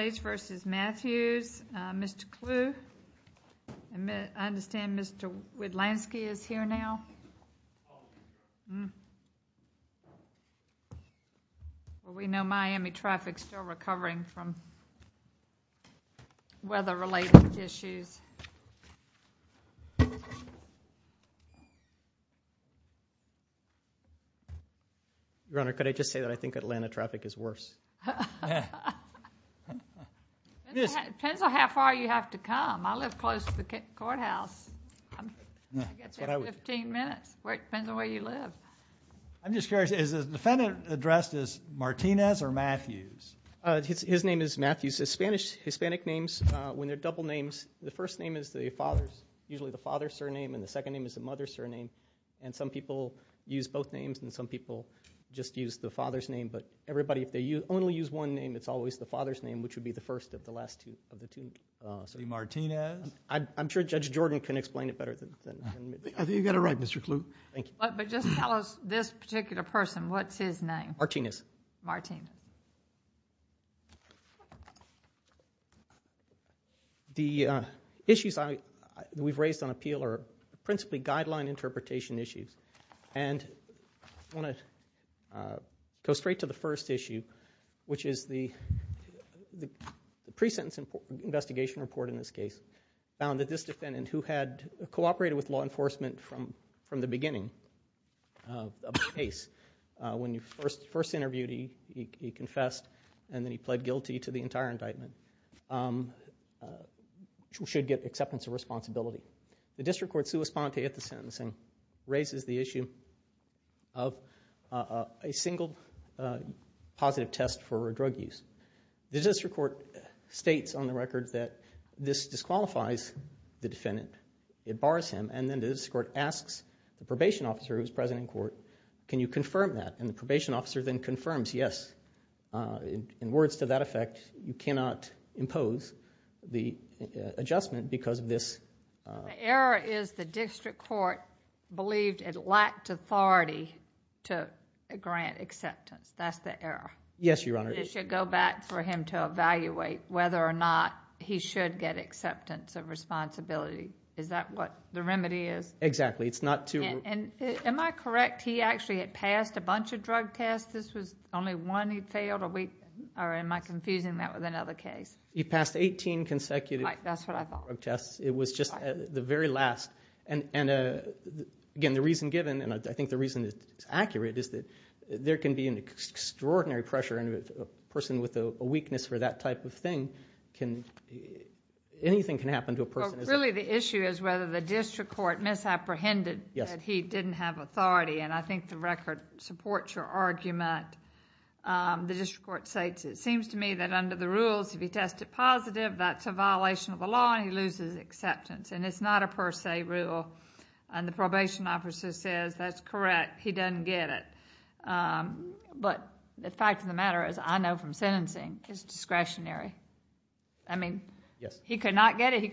States v. Mathews. Mr. Clue. I understand Mr. Wiedlanski is here now. We know Miami traffic is still recovering from weather related issues. I think Atlanta traffic is worse. Depends on how far you have to come. I live close to the courthouse. I get there in 15 minutes. Depends on where you live. Is the defendant addressed as Martinez or Mathews? His name is Mathews. His Spanish name, when they are double names, the first name is the father's surname and the second name is the mother's surname. Some people use both names and some people just use the father's name. If they only use one name, it is always the father's name, which would be the first of the last two. I am sure Judge Jordan can explain it better. I think you have it right, Mr. Clue. Just tell us this particular person, what The issues we have raised on appeal are principally guideline interpretation issues. I want to go straight to the first issue, which is the pre-sentence investigation report in this case found that this defendant, who had cooperated with law enforcement from the beginning of the case, should get acceptance of responsibility. The District Court's sua sponte at the sentencing raises the issue of a single positive test for drug use. The District Court states on the record that this disqualifies the defendant, it bars him, and then the District Court asks the probation officer who is present in court, can you confirm that? And the probation officer then confirms, yes. In words to that effect, you cannot impose the adjustment because this The error is the District Court believed it lacked authority to grant acceptance. That's the error. Yes, Your Honor. This should go back for him to evaluate whether or not he should get acceptance of responsibility. Is that what the remedy is? Exactly. It's not Am I correct? He actually had passed a bunch of drug tests. This was the only one he failed? Or am I confusing that with another case? He passed 18 consecutive drug tests. It was just the very last. And again, the reason given, and I think the reason it's accurate, is that there can be an extraordinary pressure on a person with a weakness for that type of thing. Anything can happen to a person. Really, the issue is whether the District Court misapprehended that he didn't have authority. And I think the record supports your argument. The District Court states, it seems to me that under the rules, if he tested positive, that's a violation of the law and he loses acceptance. And it's not a per se rule. And the probation officer says, that's correct, he doesn't get it. But the fact of the matter is, I know from sentencing, it's discretionary. I mean, he could not get it.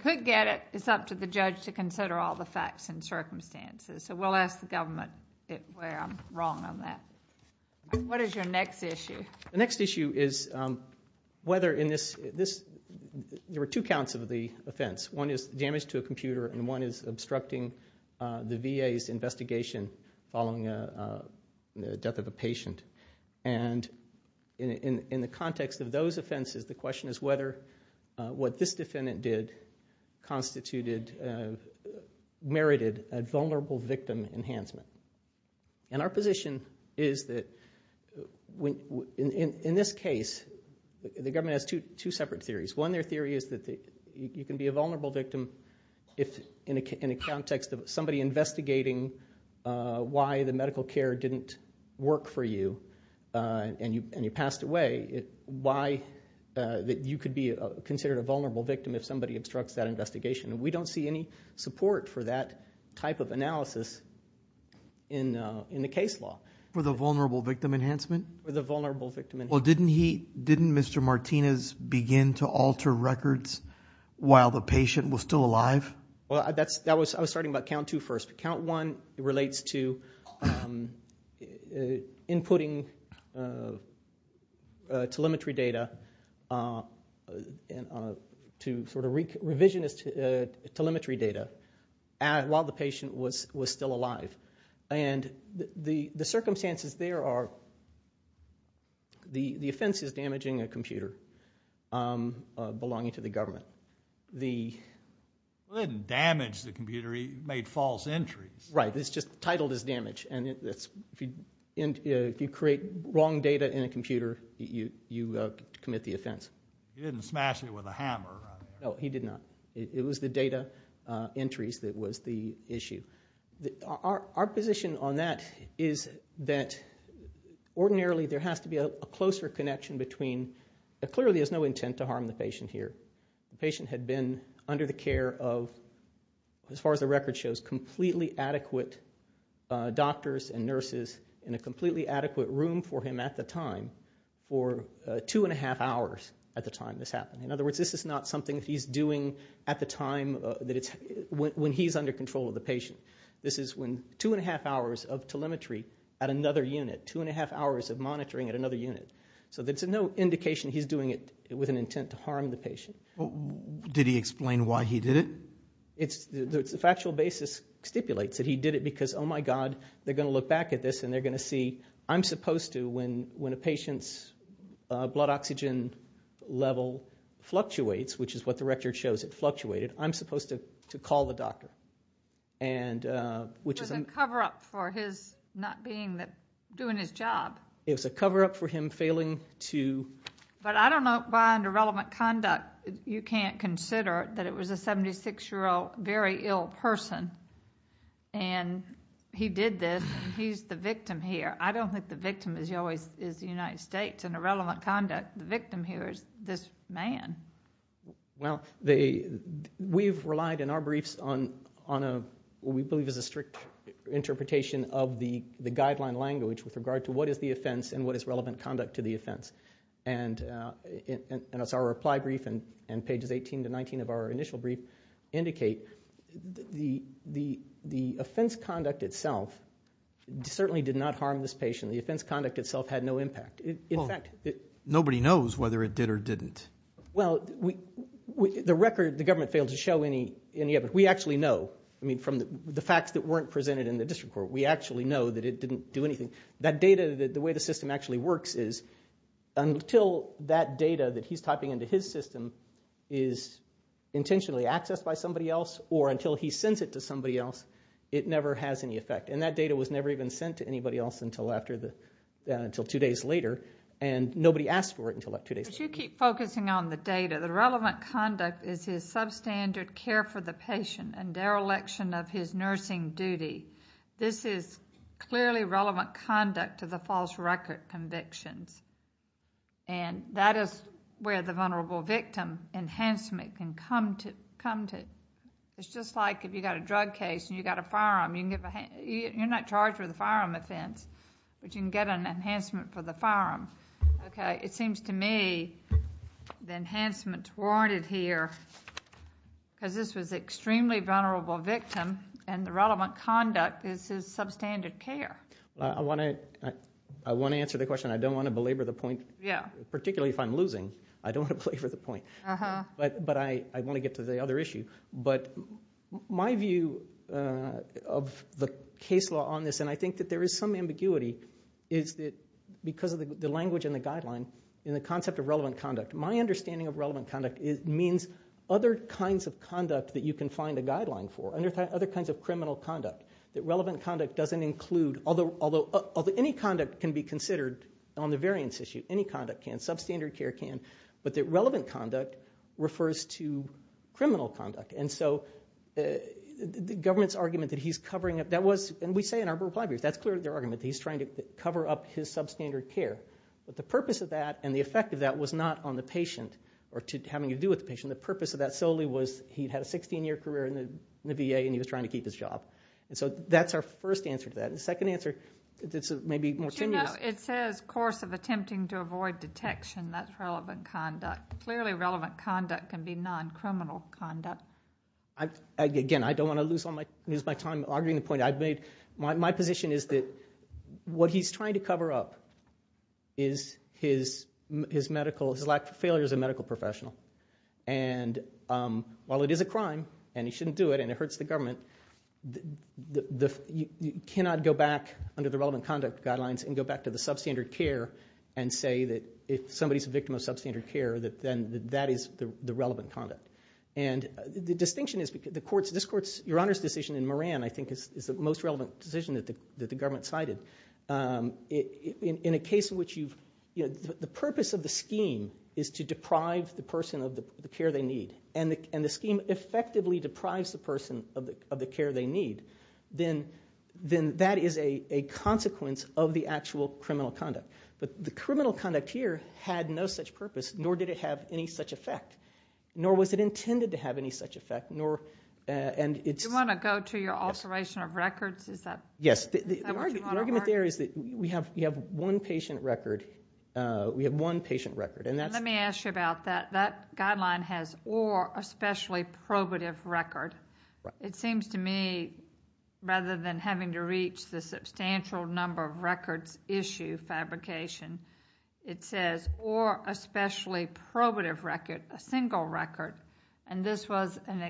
It's up to the judge to consider all the facts and circumstances. So we'll ask the government where I'm wrong on that. What is your next issue? The next issue is whether in this, there were two counts of the offense. One is damage to a computer and one is obstructing the VA's investigation following the death of a patient. And in the context of those offenses, the question is whether what this defendant did constituted, merited a vulnerable victim enhancement. And our position is that in this case, the government has two separate theories. One, their theory is that you can be a vulnerable victim and you passed away. Why that you could be considered a vulnerable victim if somebody obstructs that investigation. And we don't see any support for that type of analysis in the case law. For the vulnerable victim enhancement? For the vulnerable victim enhancement. Well, didn't he, didn't Mr. Martinez begin to alter records while the patient was still alive? Well, I was starting about count two first. Count one relates to inputting telemetry data to sort of revisionist telemetry data while the patient was still alive. And the circumstances there are, the offense is damaging a computer belonging to the government. Well, he didn't damage the computer, he made false entries. Right, it's just titled as damage. And if you create wrong data in a computer, you commit the offense. He didn't smash it with a hammer. No, he did not. It was the data entries that was the issue. Our position on that is that ordinarily there has to be a closer connection between, clearly there's no intent to harm the patient here. The patient had been under the care of, as far as the record shows, completely adequate doctors and nurses in a completely adequate room for him at the time for two and a half hours at the time this happened. In other words, this is not something he's doing at the time that it's, when he's under control of the patient. This is when two and a half hours of monitoring at another unit. So there's no indication he's doing it with an intent to harm the patient. Did he explain why he did it? The factual basis stipulates that he did it because, oh my God, they're going to look back at this and they're going to see, I'm supposed to, when a patient's blood oxygen level fluctuates, which is what the record shows, it fluctuated, I'm supposed to call the doctor. It was a cover-up for his not being, doing his job. It was a cover-up for him failing to... But I don't know why under relevant conduct you can't consider that it was a 76-year-old very ill person and he did this and he's the victim here. I don't think the victim is always the United States. Under relevant conduct, the victim here is this man. Well, we've relied in our briefs on what we believe is a strict interpretation of the guideline language with regard to what is the offense and what is relevant conduct to the offense. And as our reply brief and pages 18 to 19 of our initial brief indicate, the offense conduct itself certainly did not harm this patient. The offense conduct itself had no impact. Nobody knows whether it did or didn't. Well, the record, the government failed to show any of it. We actually know. I mean, from the facts that weren't presented in the district court, we actually know that it didn't do anything. That data, the way the system actually works is until that data that he's typing into his system is intentionally accessed by somebody else or until he sends it to somebody else, it never has any effect. And that data was never even sent to anybody else until after the, until two days later. And nobody asked for it until two days later. But you keep focusing on the data. The relevant conduct is his substandard care for the patient and dereliction of his nursing duty. This is clearly relevant conduct to the false record convictions. And that is where the vulnerable victim enhancement can come to. It's just like if you've got a drug case and you've got a firearm, you can give a... you're not charged with a firearm offense, but you can get an enhancement for the firearm. Okay? It seems to me the enhancement's warranted here because this was an extremely vulnerable victim and the relevant conduct is his substandard care. I want to answer the question. I don't want to belabor the point, particularly if I'm losing. I don't want to belabor the point. But I want to get to the other issue. But my view of the case law on this, and I think that there is some ambiguity, is that because of the language in the guideline, in the concept of relevant conduct, my understanding of relevant conduct means other kinds of conduct that you can find a guideline for, other kinds of criminal conduct, that relevant conduct doesn't include... although any conduct can be considered on the variance issue, any conduct can, substandard care can, but that relevant conduct refers to criminal conduct. And so the government's argument that he's covering up... that was... and we say in our reply briefs, that's clearly their substandard care. But the purpose of that and the effect of that was not on the patient or having to do with the patient. The purpose of that solely was he'd had a 16-year career in the VA and he was trying to keep his job. And so that's our first answer to that. And the second answer that's maybe more tenuous... But you know, it says course of attempting to avoid detection. That's relevant conduct. Clearly relevant conduct can be non-criminal conduct. Again, I don't want to lose my time arguing the point I've made. My position is that what he's trying to cover up is his medical... his lack of failure as a medical professional. And while it is a crime and he shouldn't do it and it hurts the government, you cannot go back under the relevant conduct guidelines and go back to the substandard care and say that if somebody's a victim of substandard care, then that is the relevant conduct. And the distinction is... this Court's Your Honor's decision in Moran, I think, is the most relevant decision that the government cited. In a case in which you've... the purpose of the scheme is to deprive the person of the care they need. And the scheme effectively deprives the person of the care they need. Then that is a consequence of the actual criminal conduct. But the criminal conduct here had no such purpose, nor did it have any such effect. Nor was it intended to have any such effect, nor... Do you want to go to your alteration of records? Yes. The argument there is that we have one patient record. We have one patient record. And that's... Let me ask you about that. That guideline has or especially probative record. It seems to me, rather than having to reach the substantial number of records issue fabrication, it says or especially probative record, a single record. And this was an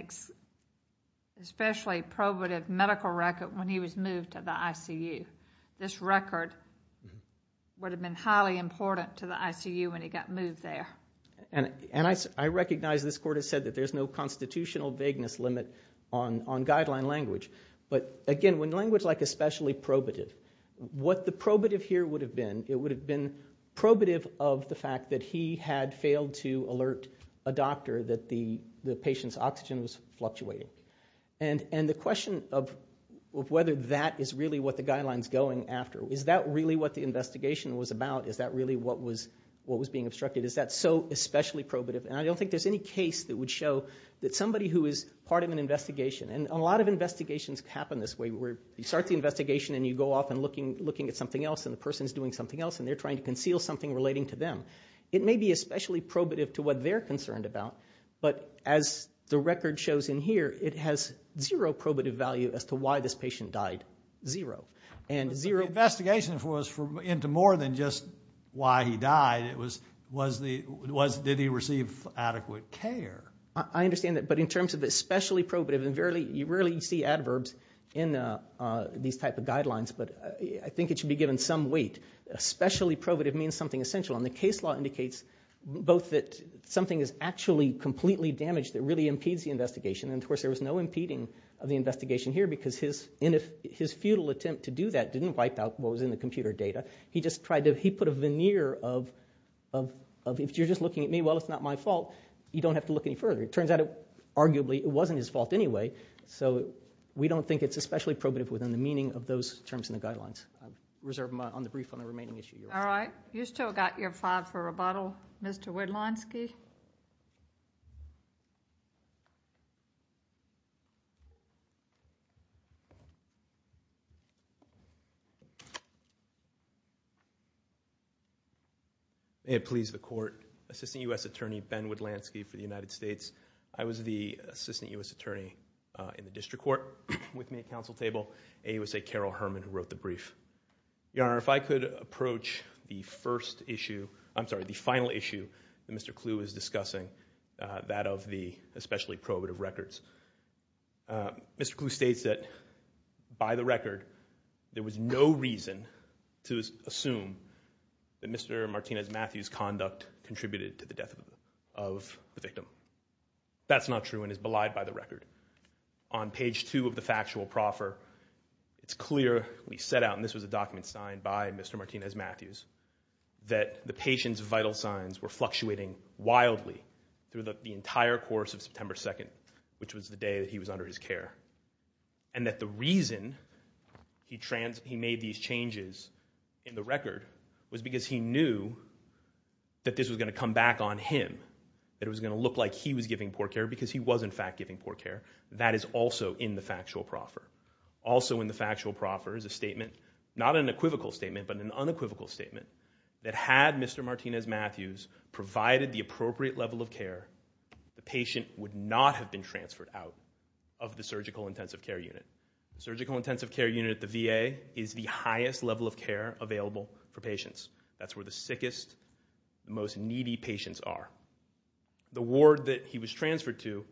especially probative medical record when he was moved to the ICU. This record would have been highly important to the ICU when he got moved there. And I recognize this Court has said that there's no constitutional vagueness limit on guideline language. But again, when language like especially probative... what the probative here would have been, it would have been probative of the fact that he had failed to alert a doctor that the patient's oxygen was fluctuating. And the question of whether that is really what the guideline is going after, is that really what the investigation was about? Is that really what was being obstructed? Is that so especially probative? And I don't think there's any case that would show that somebody who is part of an investigation... and a lot of investigations happen this way, where you start the investigation and you go off and looking at something else and the person is doing something else and they're trying to conceal something relating to them. It may be especially probative to what they're concerned about, but as the record shows in here, it has zero probative value as to why this patient died. Zero. And zero... But the investigation was into more than just why he died. It was... was the... was... did he receive adequate care? I understand that. But in terms of especially probative... and you rarely see adverbs in these type of guidelines, but I think it should be given some weight. Especially probative means something essential. And the case law indicates both that something is actually completely damaged that really impedes the investigation, and of course there was no impeding of the investigation here because his futile attempt to do that didn't wipe out what was in the computer data. He just tried to... he put a veneer of... of if you're just looking at me, well it's not my fault, you don't have to look any further. It turns out arguably it wasn't his fault anyway, so we don't think it's especially probative within the meaning of those terms in the guidelines. I reserve my... on the brief on the remaining issue. All right. You've still got your five for rebuttal. Mr. Widlanski? May it please the Court. Assistant U.S. Attorney Ben Widlanski for the United States. I was the Assistant U.S. Attorney in the District Court with me at counsel table. A was a Carol Herman who wrote the brief. Your Honor, if I could approach the first issue... I'm Mr. Kluw is discussing that of the especially probative records. Mr. Kluw states that by the record there was no reason to assume that Mr. Martinez-Matthews' conduct contributed to the death of the victim. That's not true and is belied by the record. On page two of the factual proffer, it's clear we set out, and this was a document signed by Mr. Martinez-Matthews, that the patient's vital signs were fluctuating wildly through the entire course of September 2nd, which was the day that he was under his care. And that the reason he made these changes in the record was because he knew that this was going to come back on him, that it was going to look like he was giving poor care because he was, in fact, giving poor care. That is also in the factual proffer. Also in the factual proffer is a statement, not an equivocal statement, but an unequivocal statement, that had Mr. Martinez-Matthews provided the appropriate level of care, the patient would not have been transferred out of the Surgical Intensive Care Unit. Surgical Intensive Care Unit, the VA, is the highest level of care available for patients. That's where the sickest, most needy patients are. The ward that he was transferred to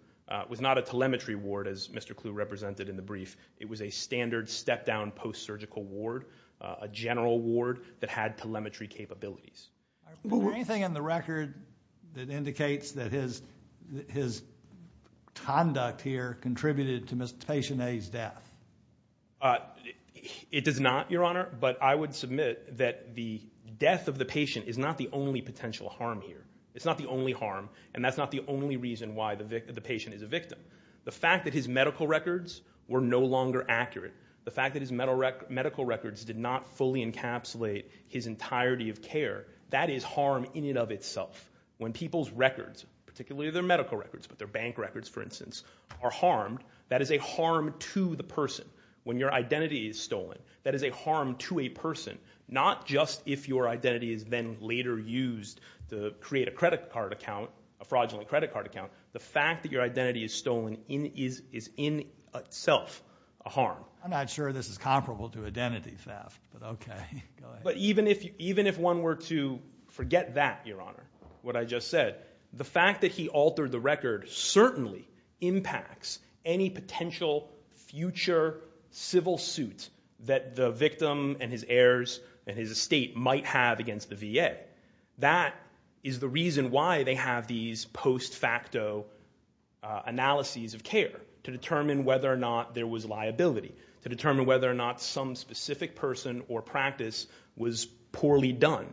was not a telemetry ward, as Mr. Kluw represented in the brief. It was a standard step-down post-surgical ward, a general ward that had telemetry capabilities. Is there anything in the record that indicates that his conduct here contributed to Mr. Patient A's death? It does not, Your Honor, but I would submit that the death of the patient is not the only potential harm here. It's not the only harm, and that's not the only reason why the patient is a victim. The fact that his medical records were no longer accurate, the fact that his medical records did not fully encapsulate his entirety of care, that is harm in and of itself. When people's records, particularly their medical records, but their bank records, for instance, are harmed, that is a harm to the person. When your identity is stolen, that is a harm to a person, not just if your identity is then later used to create a credit card account, a fraudulent credit card account. The fact that your identity is stolen is in itself a harm. I'm not sure this is comparable to identity theft, but OK. But even if one were to forget that, Your Honor, what I just said, the fact that he altered the record certainly impacts any potential future civil suit that the victim and his VA. That is the reason why they have these post-facto analyses of care to determine whether or not there was liability, to determine whether or not some specific person or practice was poorly done.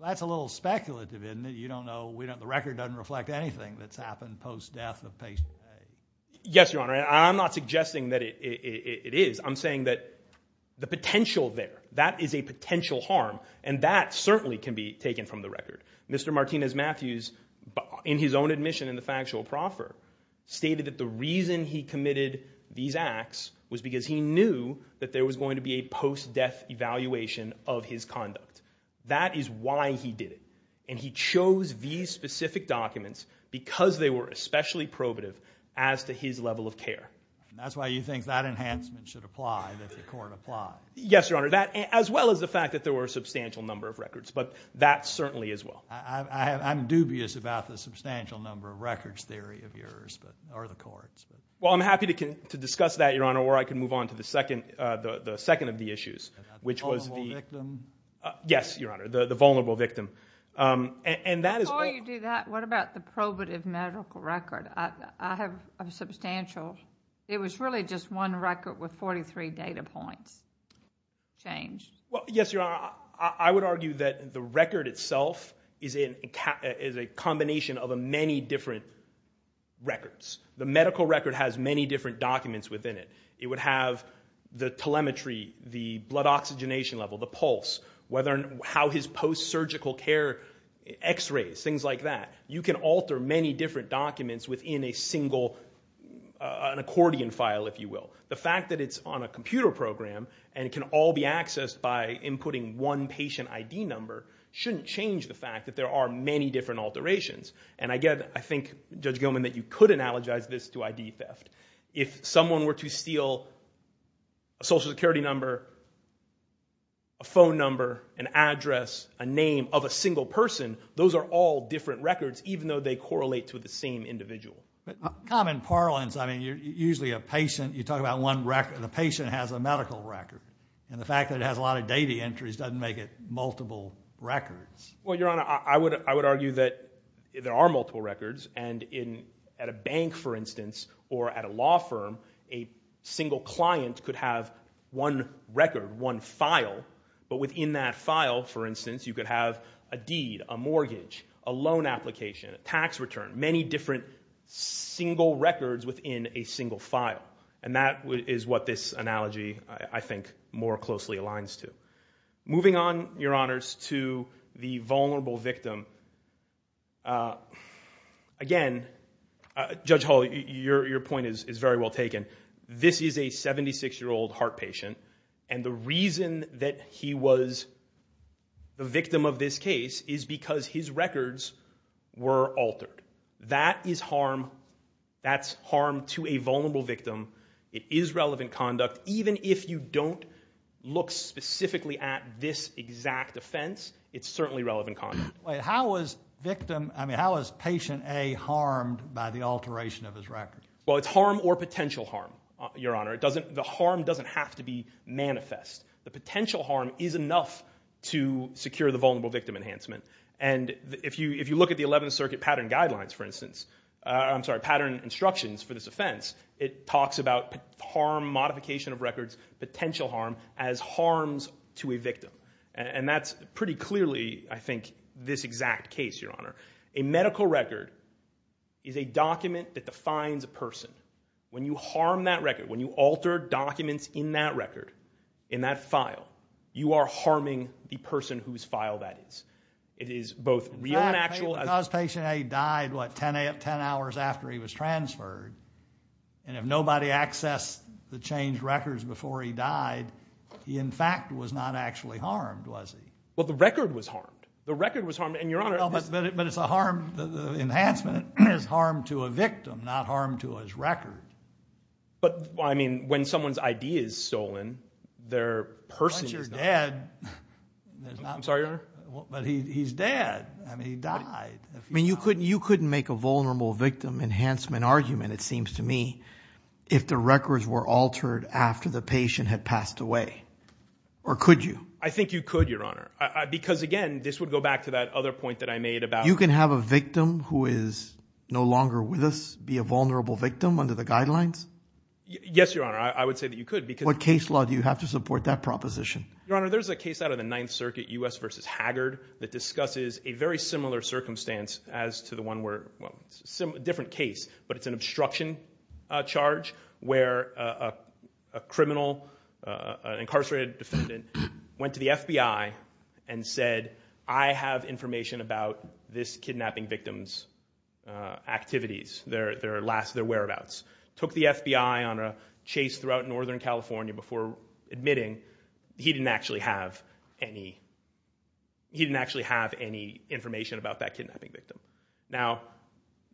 Well, that's a little speculative, isn't it? You don't know. The record doesn't reflect anything that's happened post-death of patient A. Yes, Your Honor. I'm not suggesting that it is. I'm saying that the potential there, that is a potential harm, and that certainly can be taken from the record. Mr. Martinez-Matthews, in his own admission in the factual proffer, stated that the reason he committed these acts was because he knew that there was going to be a post-death evaluation of his conduct. That is why he did it. And he chose these specific documents because they were especially probative as to his level of care. That's why you think that enhancement should apply, that the court apply. Yes, Your Honor. That, as well as the fact that there were a substantial number of records. But that certainly is well. I'm dubious about the substantial number of records theory of yours, or the courts. Well, I'm happy to discuss that, Your Honor, or I can move on to the second of the issues, which was the... The vulnerable victim? Yes, Your Honor. The vulnerable victim. And that is... Before you do that, what about the probative medical record? I have a substantial... It was really just one record with 43 data points changed. Well, yes, Your Honor. I would argue that the record itself is a combination of many different records. The medical record has many different documents within it. It would have the telemetry, the blood oxygenation level, the pulse, how his post-surgical care, x-rays, things like that. You can alter many different documents within a single, an accordion file, if you will. The fact that it's on a computer program, and it can all be accessed by inputting one patient ID number, shouldn't change the fact that there are many different alterations. And I think, Judge Gilman, that you could analogize this to ID theft. If someone were to steal a social security number, a phone number, an address, a name of a single person, those are all different records, even though they correlate to the same individual. Common parlance, I mean, you're usually a patient. You talk about one record. The patient has a medical record. And the fact that it has a lot of data entries doesn't make it multiple records. Well, Your Honor, I would argue that there are multiple records. And at a bank, for instance, or at a law firm, a single client could have one record, one file. But within that file, for instance, you could have a deed, a mortgage, a loan application, a tax return, many different single records within a single file. And that is what this analogy, I think, more closely aligns to. Moving on, Your Honors, to the vulnerable victim. Again, Judge Hall, your point is very well taken. This is a 76-year-old heart patient. And the reason that he was the victim of this case is because his records were altered. That is harm. That's harm to a vulnerable victim. It is relevant conduct. Even if you don't look specifically at this exact offense, it's certainly relevant conduct. How is victim, I mean, how is patient A harmed by the alteration of his records? Well, it's harm or potential harm, Your Honor. The harm doesn't have to be manifest. The And if you look at the Eleventh Circuit pattern guidelines, for instance, I'm sorry, pattern instructions for this offense, it talks about harm, modification of records, potential harm as harms to a victim. And that's pretty clearly, I think, this exact case, Your Honor. A medical record is a document that defines a person. When you harm that record, when you alter documents in that record, in that file, you are harming the person whose file that is. It is both real and actual. Because patient A died, what, 10 hours after he was transferred, and if nobody accessed the changed records before he died, he, in fact, was not actually harmed, was he? Well, the record was harmed. The record was harmed. And, Your Honor, it's... But it's a harm, the enhancement is harm to a victim, not harm to his record. But I mean, when someone's ID is stolen, their person is not... He's dead. I'm sorry, Your Honor. But he's dead. I mean, he died. You couldn't make a vulnerable victim enhancement argument, it seems to me, if the records were altered after the patient had passed away. Or could you? I think you could, Your Honor. Because, again, this would go back to that other point that I made about... You can have a victim who is no longer with us be a vulnerable victim under the guidelines? Yes, Your Honor, I would say that you could, because... What case law do you have to support that proposition? Your Honor, there's a case out of the Ninth Circuit, U.S. v. Haggard, that discusses a very similar circumstance as to the one where... Well, it's a different case, but it's an obstruction charge where a criminal, an incarcerated defendant, went to the FBI and said, I have information about this kidnapping victim's activities, their whereabouts, took the FBI on a chase throughout Northern California before admitting he didn't actually have any information about that kidnapping victim. Now,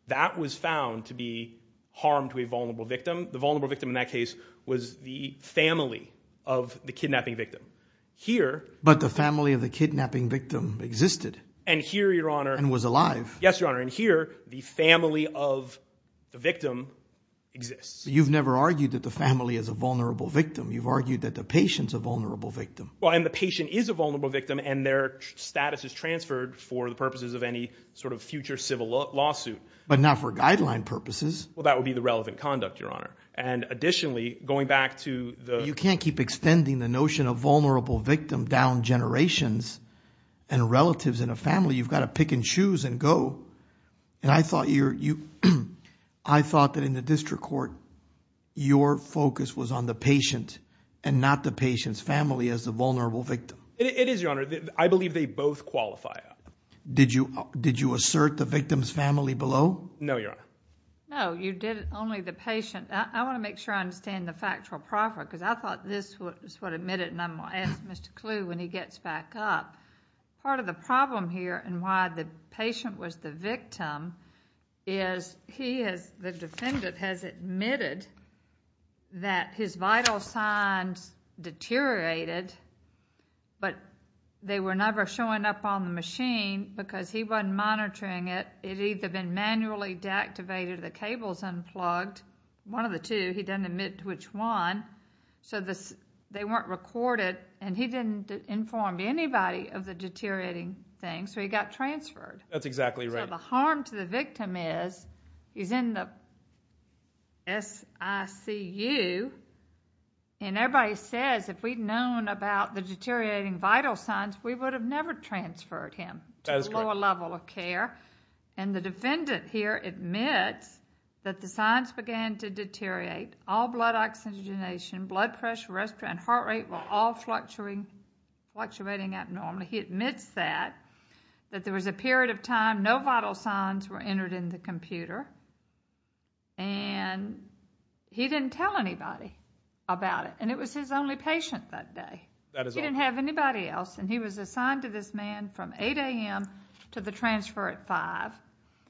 that was found to be harm to a vulnerable victim. The vulnerable victim in that case was the family of the kidnapping victim. Here... But the family of the kidnapping victim existed. And here, Your Honor... And was alive. Yes, Your Honor. And here, the family of the victim exists. You've never argued that the family is a vulnerable victim. You've argued that the patient's a vulnerable victim. Well, and the patient is a vulnerable victim, and their status is transferred for the purposes of any sort of future civil lawsuit. But not for guideline purposes. Well, that would be the relevant conduct, Your Honor. And additionally, going back to the... You can't keep extending the notion of vulnerable victim down generations and relatives in a family. You've got to pick and choose and go. And I thought that in the district court, your focus was on the patient and not the patient's family as the vulnerable victim. It is, Your Honor. I believe they both qualify. Did you assert the victim's family below? No, Your Honor. No, you did it only the patient. I want to make sure I understand the factual proper, because I thought this was what admitted, and I'm going to ask Mr. Kluh when he gets back up. Part of the problem here and why the patient was the victim is he has, the defendant has admitted that his vital signs deteriorated, but they were never showing up on the machine because he wasn't monitoring it. It had either been manually deactivated, the cables unplugged, one of the two. He doesn't admit which one. So they weren't recorded, and he didn't inform anybody of the deteriorating things, so he got transferred. That's exactly right. So the harm to the victim is, he's in the SICU, and everybody says if we'd known about the deteriorating vital signs, we would have never transferred him to a lower level of care. And the defendant here admits that the signs began to deteriorate. All blood oxygenation, blood pressure, respiratory, and heart rate were all fluctuating abnormally. He admits that, that there was a period of time no vital signs were entered in the computer, and he didn't tell anybody about it, and it was his only patient that day. That is all. He didn't have anybody else, and he was assigned to this man from 8 a.m. to the transfer at 5.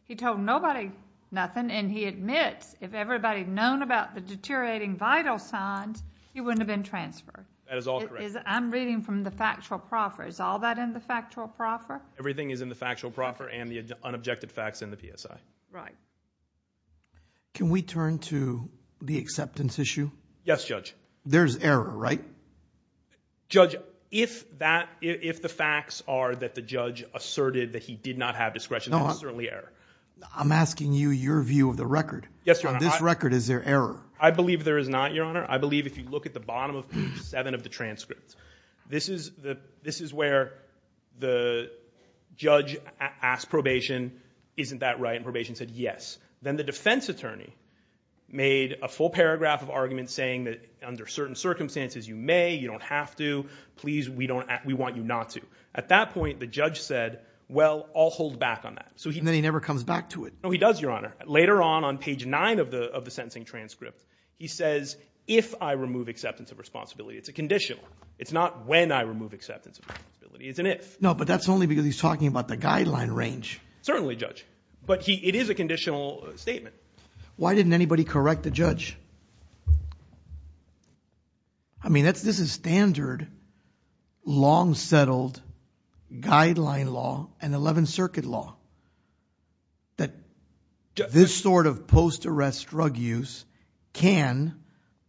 He told nobody nothing, and he admits if everybody had known about the deteriorating vital signs, he wouldn't have been transferred. That is all correct. I'm reading from the factual proffer. Is all that in the factual proffer? Everything is in the factual proffer and the unobjected facts in the PSI. Right. Can we turn to the acceptance issue? Yes, Judge. There's error, right? Judge, if the facts are that the judge asserted that he did not have discretion, that is certainly error. I'm asking you your view of the record. Yes, Your Honor. On this record, is there error? I believe there is not, Your Honor. I believe if you look at the bottom of page 7 of the transcript, this is where the judge asked probation, isn't that right? And probation said yes. Then the defense attorney made a full paragraph of argument saying that under certain circumstances you may, you don't have to. Please, we want you not to. At that point, the judge said, well, I'll hold back on that. And then he never comes back to it. No, he does, Your Honor. Later on, on page 9 of the sentencing transcript, he says, if I remove acceptance of responsibility. It's a conditional. It's not when I remove acceptance of responsibility. It's an if. No, but that's only because he's talking about the guideline range. Certainly, Judge. But it is a conditional statement. Why didn't anybody correct the judge? I mean, this is standard, long-settled, guideline law, and 11th Circuit law, that this sort of post-arrest drug use can,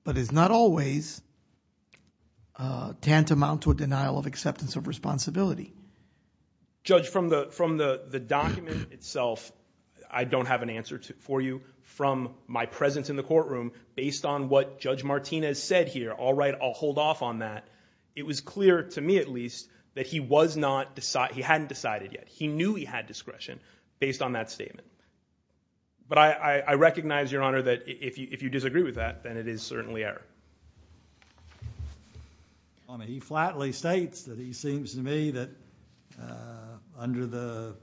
but is not always tantamount to a denial of acceptance of responsibility. Judge, from the document itself, I don't have an answer for you. From my presence in the courtroom, based on what Judge Martinez said here, all right, I'll hold off on that. It was clear, to me at least, that he hadn't decided yet. He knew he had discretion based on that statement. But I recognize, Your Honor, that if you disagree with that, then it is certainly error. He flatly states that he seems to me that under the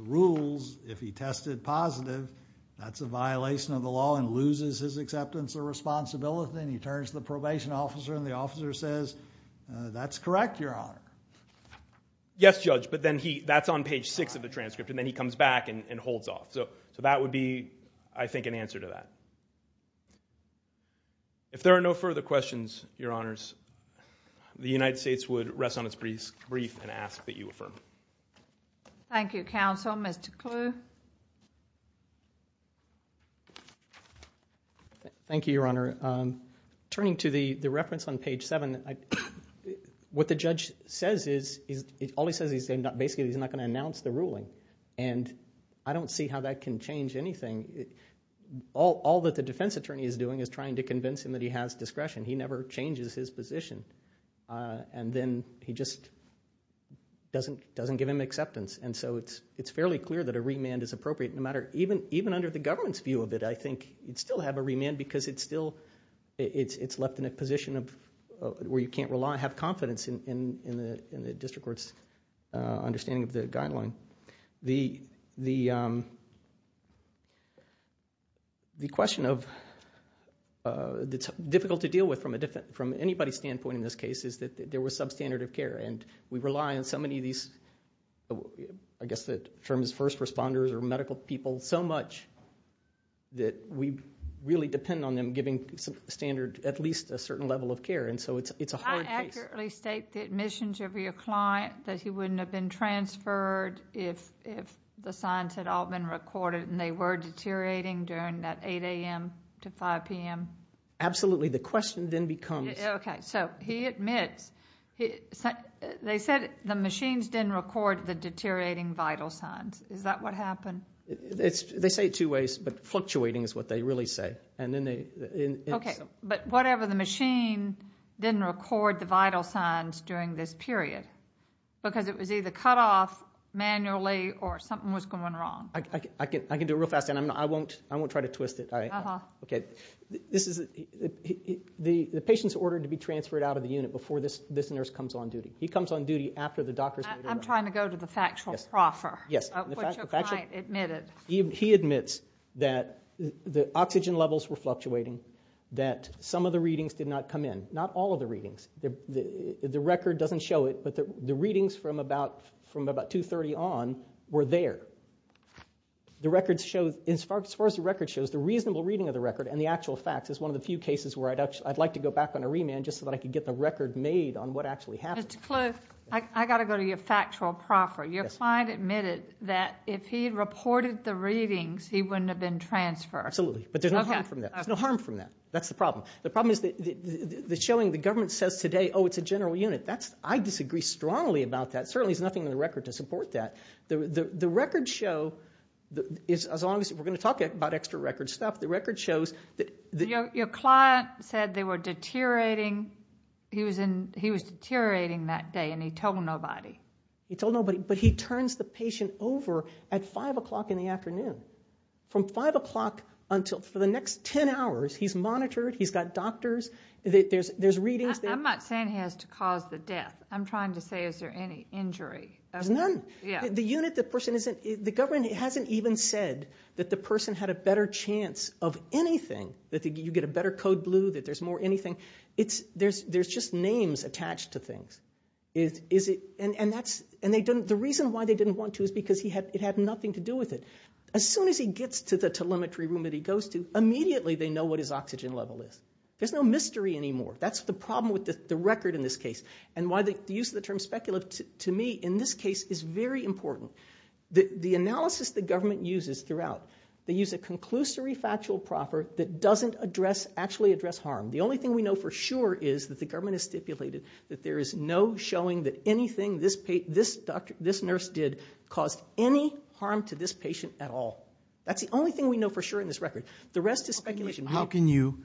rules, if he tested positive, that's a violation of the law and loses his acceptance of responsibility, and he turns to the probation officer, and the officer says, that's correct, Your Honor. Yes, Judge, but then that's on page 6 of the transcript, and then he comes back and holds off. So that would be, I think, an answer to that. If there are no further questions, Your Honors, the United States would rest on its brief and ask that you affirm. Thank you, counsel. Mr. Kluh? Thank you, Your Honor. Turning to the reference on page 7, what the judge says is, all he says is, basically he's not going to announce the ruling, and I don't see how that can change anything. All that the defense attorney is doing is trying to convince him that he has discretion. He never changes his position, and then he just doesn't give him acceptance. And so it's fairly clear that a remand is appropriate. Even under the government's view of it, I think you'd still have a remand, because it's left in a position where you can't rely, have confidence in the district court's understanding of the guideline. The question that's difficult to deal with from anybody's standpoint in this case is that there was substandard of care, and we rely on so many of these, I guess, the firm's first responders or medical people so much that we really depend on them giving standard at least a certain level of care, and so it's a hard case. I accurately state the admissions of your client, that he wouldn't have been transferred if the signs had all been recorded and they were deteriorating during that 8 a.m. to 5 p.m.? Absolutely. The question then becomes... Okay, so he admits. They said the machines didn't record the deteriorating vital signs. Is that what happened? They say it two ways, but fluctuating is what they really say. Okay, but whatever the machine didn't record the vital signs during this period, because it was either cut off manually or something was going wrong. I can do it real fast, and I won't try to twist it. The patient's ordered to be transferred out of the unit before this nurse comes on duty. He comes on duty after the doctor's... I'm trying to go to the factual proffer, which your client admitted. He admits that the oxygen levels were fluctuating, that some of the readings did not come in. Not all of the readings. The record doesn't show it, but the readings from about 2.30 on were there. As far as the record shows, the reasonable reading of the record and the actual facts is one of the few cases where I'd like to go back on a remand just so that I can get the record made on what actually happened. Mr. Kluth, I've got to go to your factual proffer. Your client admitted that if he had reported the readings, he wouldn't have been transferred. Absolutely, but there's no harm from that. That's the problem. The problem is the showing the government says today, oh, it's a general unit. I disagree strongly about that. Certainly there's nothing in the record to support that. The records show... We're going to talk about extra record stuff. The record shows... Your client said they were deteriorating. He was deteriorating that day and he told nobody. He told nobody, but he turns the patient over at 5 o'clock in the afternoon. From 5 o'clock until... For the next 10 hours, he's monitored, he's got doctors. There's readings... I'm not saying he has to cause the death. I'm trying to say is there any injury. There's none. The government hasn't even said that the person had a better chance of anything, that you get a better code blue, that there's more anything. There's just names attached to things. And the reason why they didn't want to is because it had nothing to do with it. As soon as he gets to the telemetry room that he goes to, immediately they know what his oxygen level is. There's no mystery anymore. That's the problem with the record in this case and why the use of the term speculative, to me, in this case, is very important. The analysis the government uses throughout, they use a conclusory factual proper that doesn't actually address harm. The only thing we know for sure is that the government has stipulated that there is no showing that anything this nurse did caused any harm to this patient at all. That's the only thing we know for sure in this record. The rest is speculation. How can you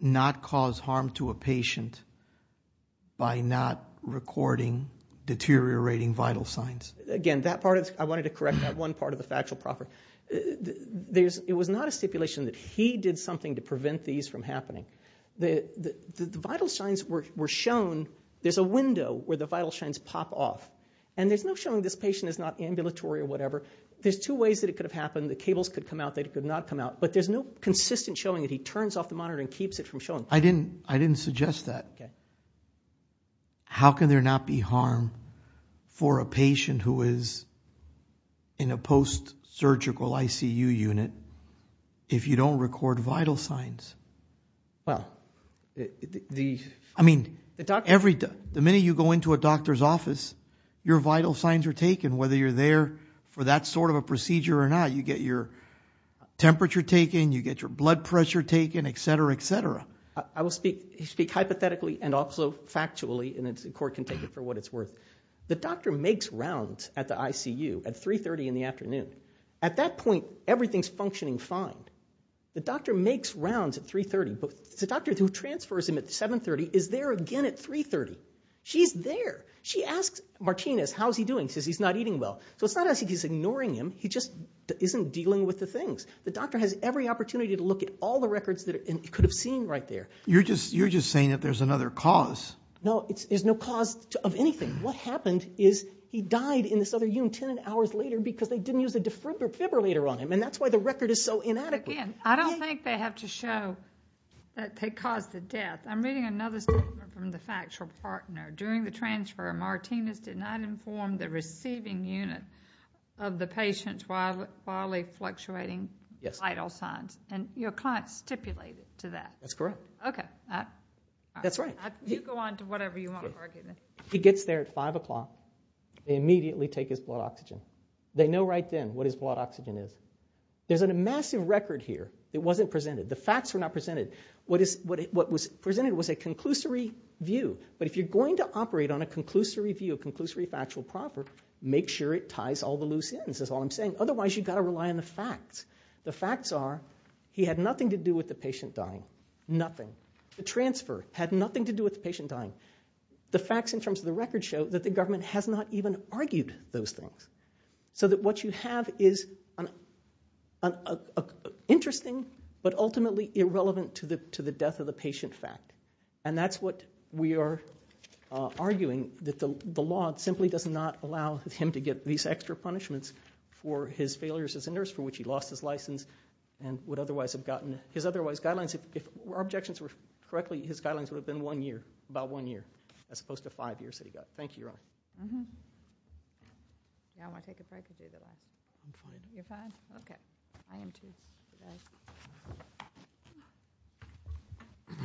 not cause harm to a patient by not recording deteriorating vital signs? Again, I wanted to correct that one part of the factual proper. It was not a stipulation that he did something to prevent these from happening. The vital signs were shown... There's a window where the vital signs pop off. There's no showing this patient is not ambulatory or whatever. There's two ways it could have happened. The cables could come out, they could not come out. But there's no consistent showing that he turns off the monitor and keeps it from showing. I didn't suggest that. How can there not be harm for a patient who is in a post-surgical ICU unit if you don't record vital signs? Well, the... Whether your vital signs are taken, whether you're there for that sort of a procedure or not, you get your temperature taken, you get your blood pressure taken, etc., etc. I will speak hypothetically and also factually, and the court can take it for what it's worth. The doctor makes rounds at the ICU at 3.30 in the afternoon. At that point, everything's functioning fine. The doctor makes rounds at 3.30, but the doctor who transfers him at 7.30 is there again at 3.30. She's there. She asks Martinez, how's he doing, says he's not eating well. So it's not as if he's ignoring him, he just isn't dealing with the things. The doctor has every opportunity to look at all the records that he could have seen right there. You're just saying that there's another cause. No, there's no cause of anything. What happened is he died in this other unit 10 hours later because they didn't use a defibrillator on him, and that's why the record is so inadequate. Again, I don't think they have to show that they caused the death. I'm reading another statement from the factual partner. During the transfer, Martinez did not inform the receiving unit of the patient's wildly fluctuating vital signs, and your client stipulated to that. That's correct. Okay. That's right. You go on to whatever you want to argue. He gets there at 5 o'clock. They immediately take his blood oxygen. They know right then what his blood oxygen is. There's a massive record here. It wasn't presented. The facts were not presented. What was presented was a conclusory view, but if you're going to operate on a conclusory view, a conclusory factual proper, make sure it ties all the loose ends, is all I'm saying, otherwise you've got to rely on the facts. The facts are he had nothing to do with the patient dying, nothing. The transfer had nothing to do with the patient dying. The facts in terms of the record show that the government has not even argued those things, so that what you have is an interesting but ultimately irrelevant to the death of the patient fact, and that's what we are arguing, that the law simply does not allow him to get these extra punishments for his failures as a nurse, for which he lost his license and would otherwise have gotten his otherwise guidelines. If our objections were correctly, his guidelines would have been one year, about one year, as opposed to five years that he got. Thank you, Your Honor. Mm-hmm. Yeah, I want to take a break and do the rest. I'm fine. You're fine? Okay. I am too. You guys.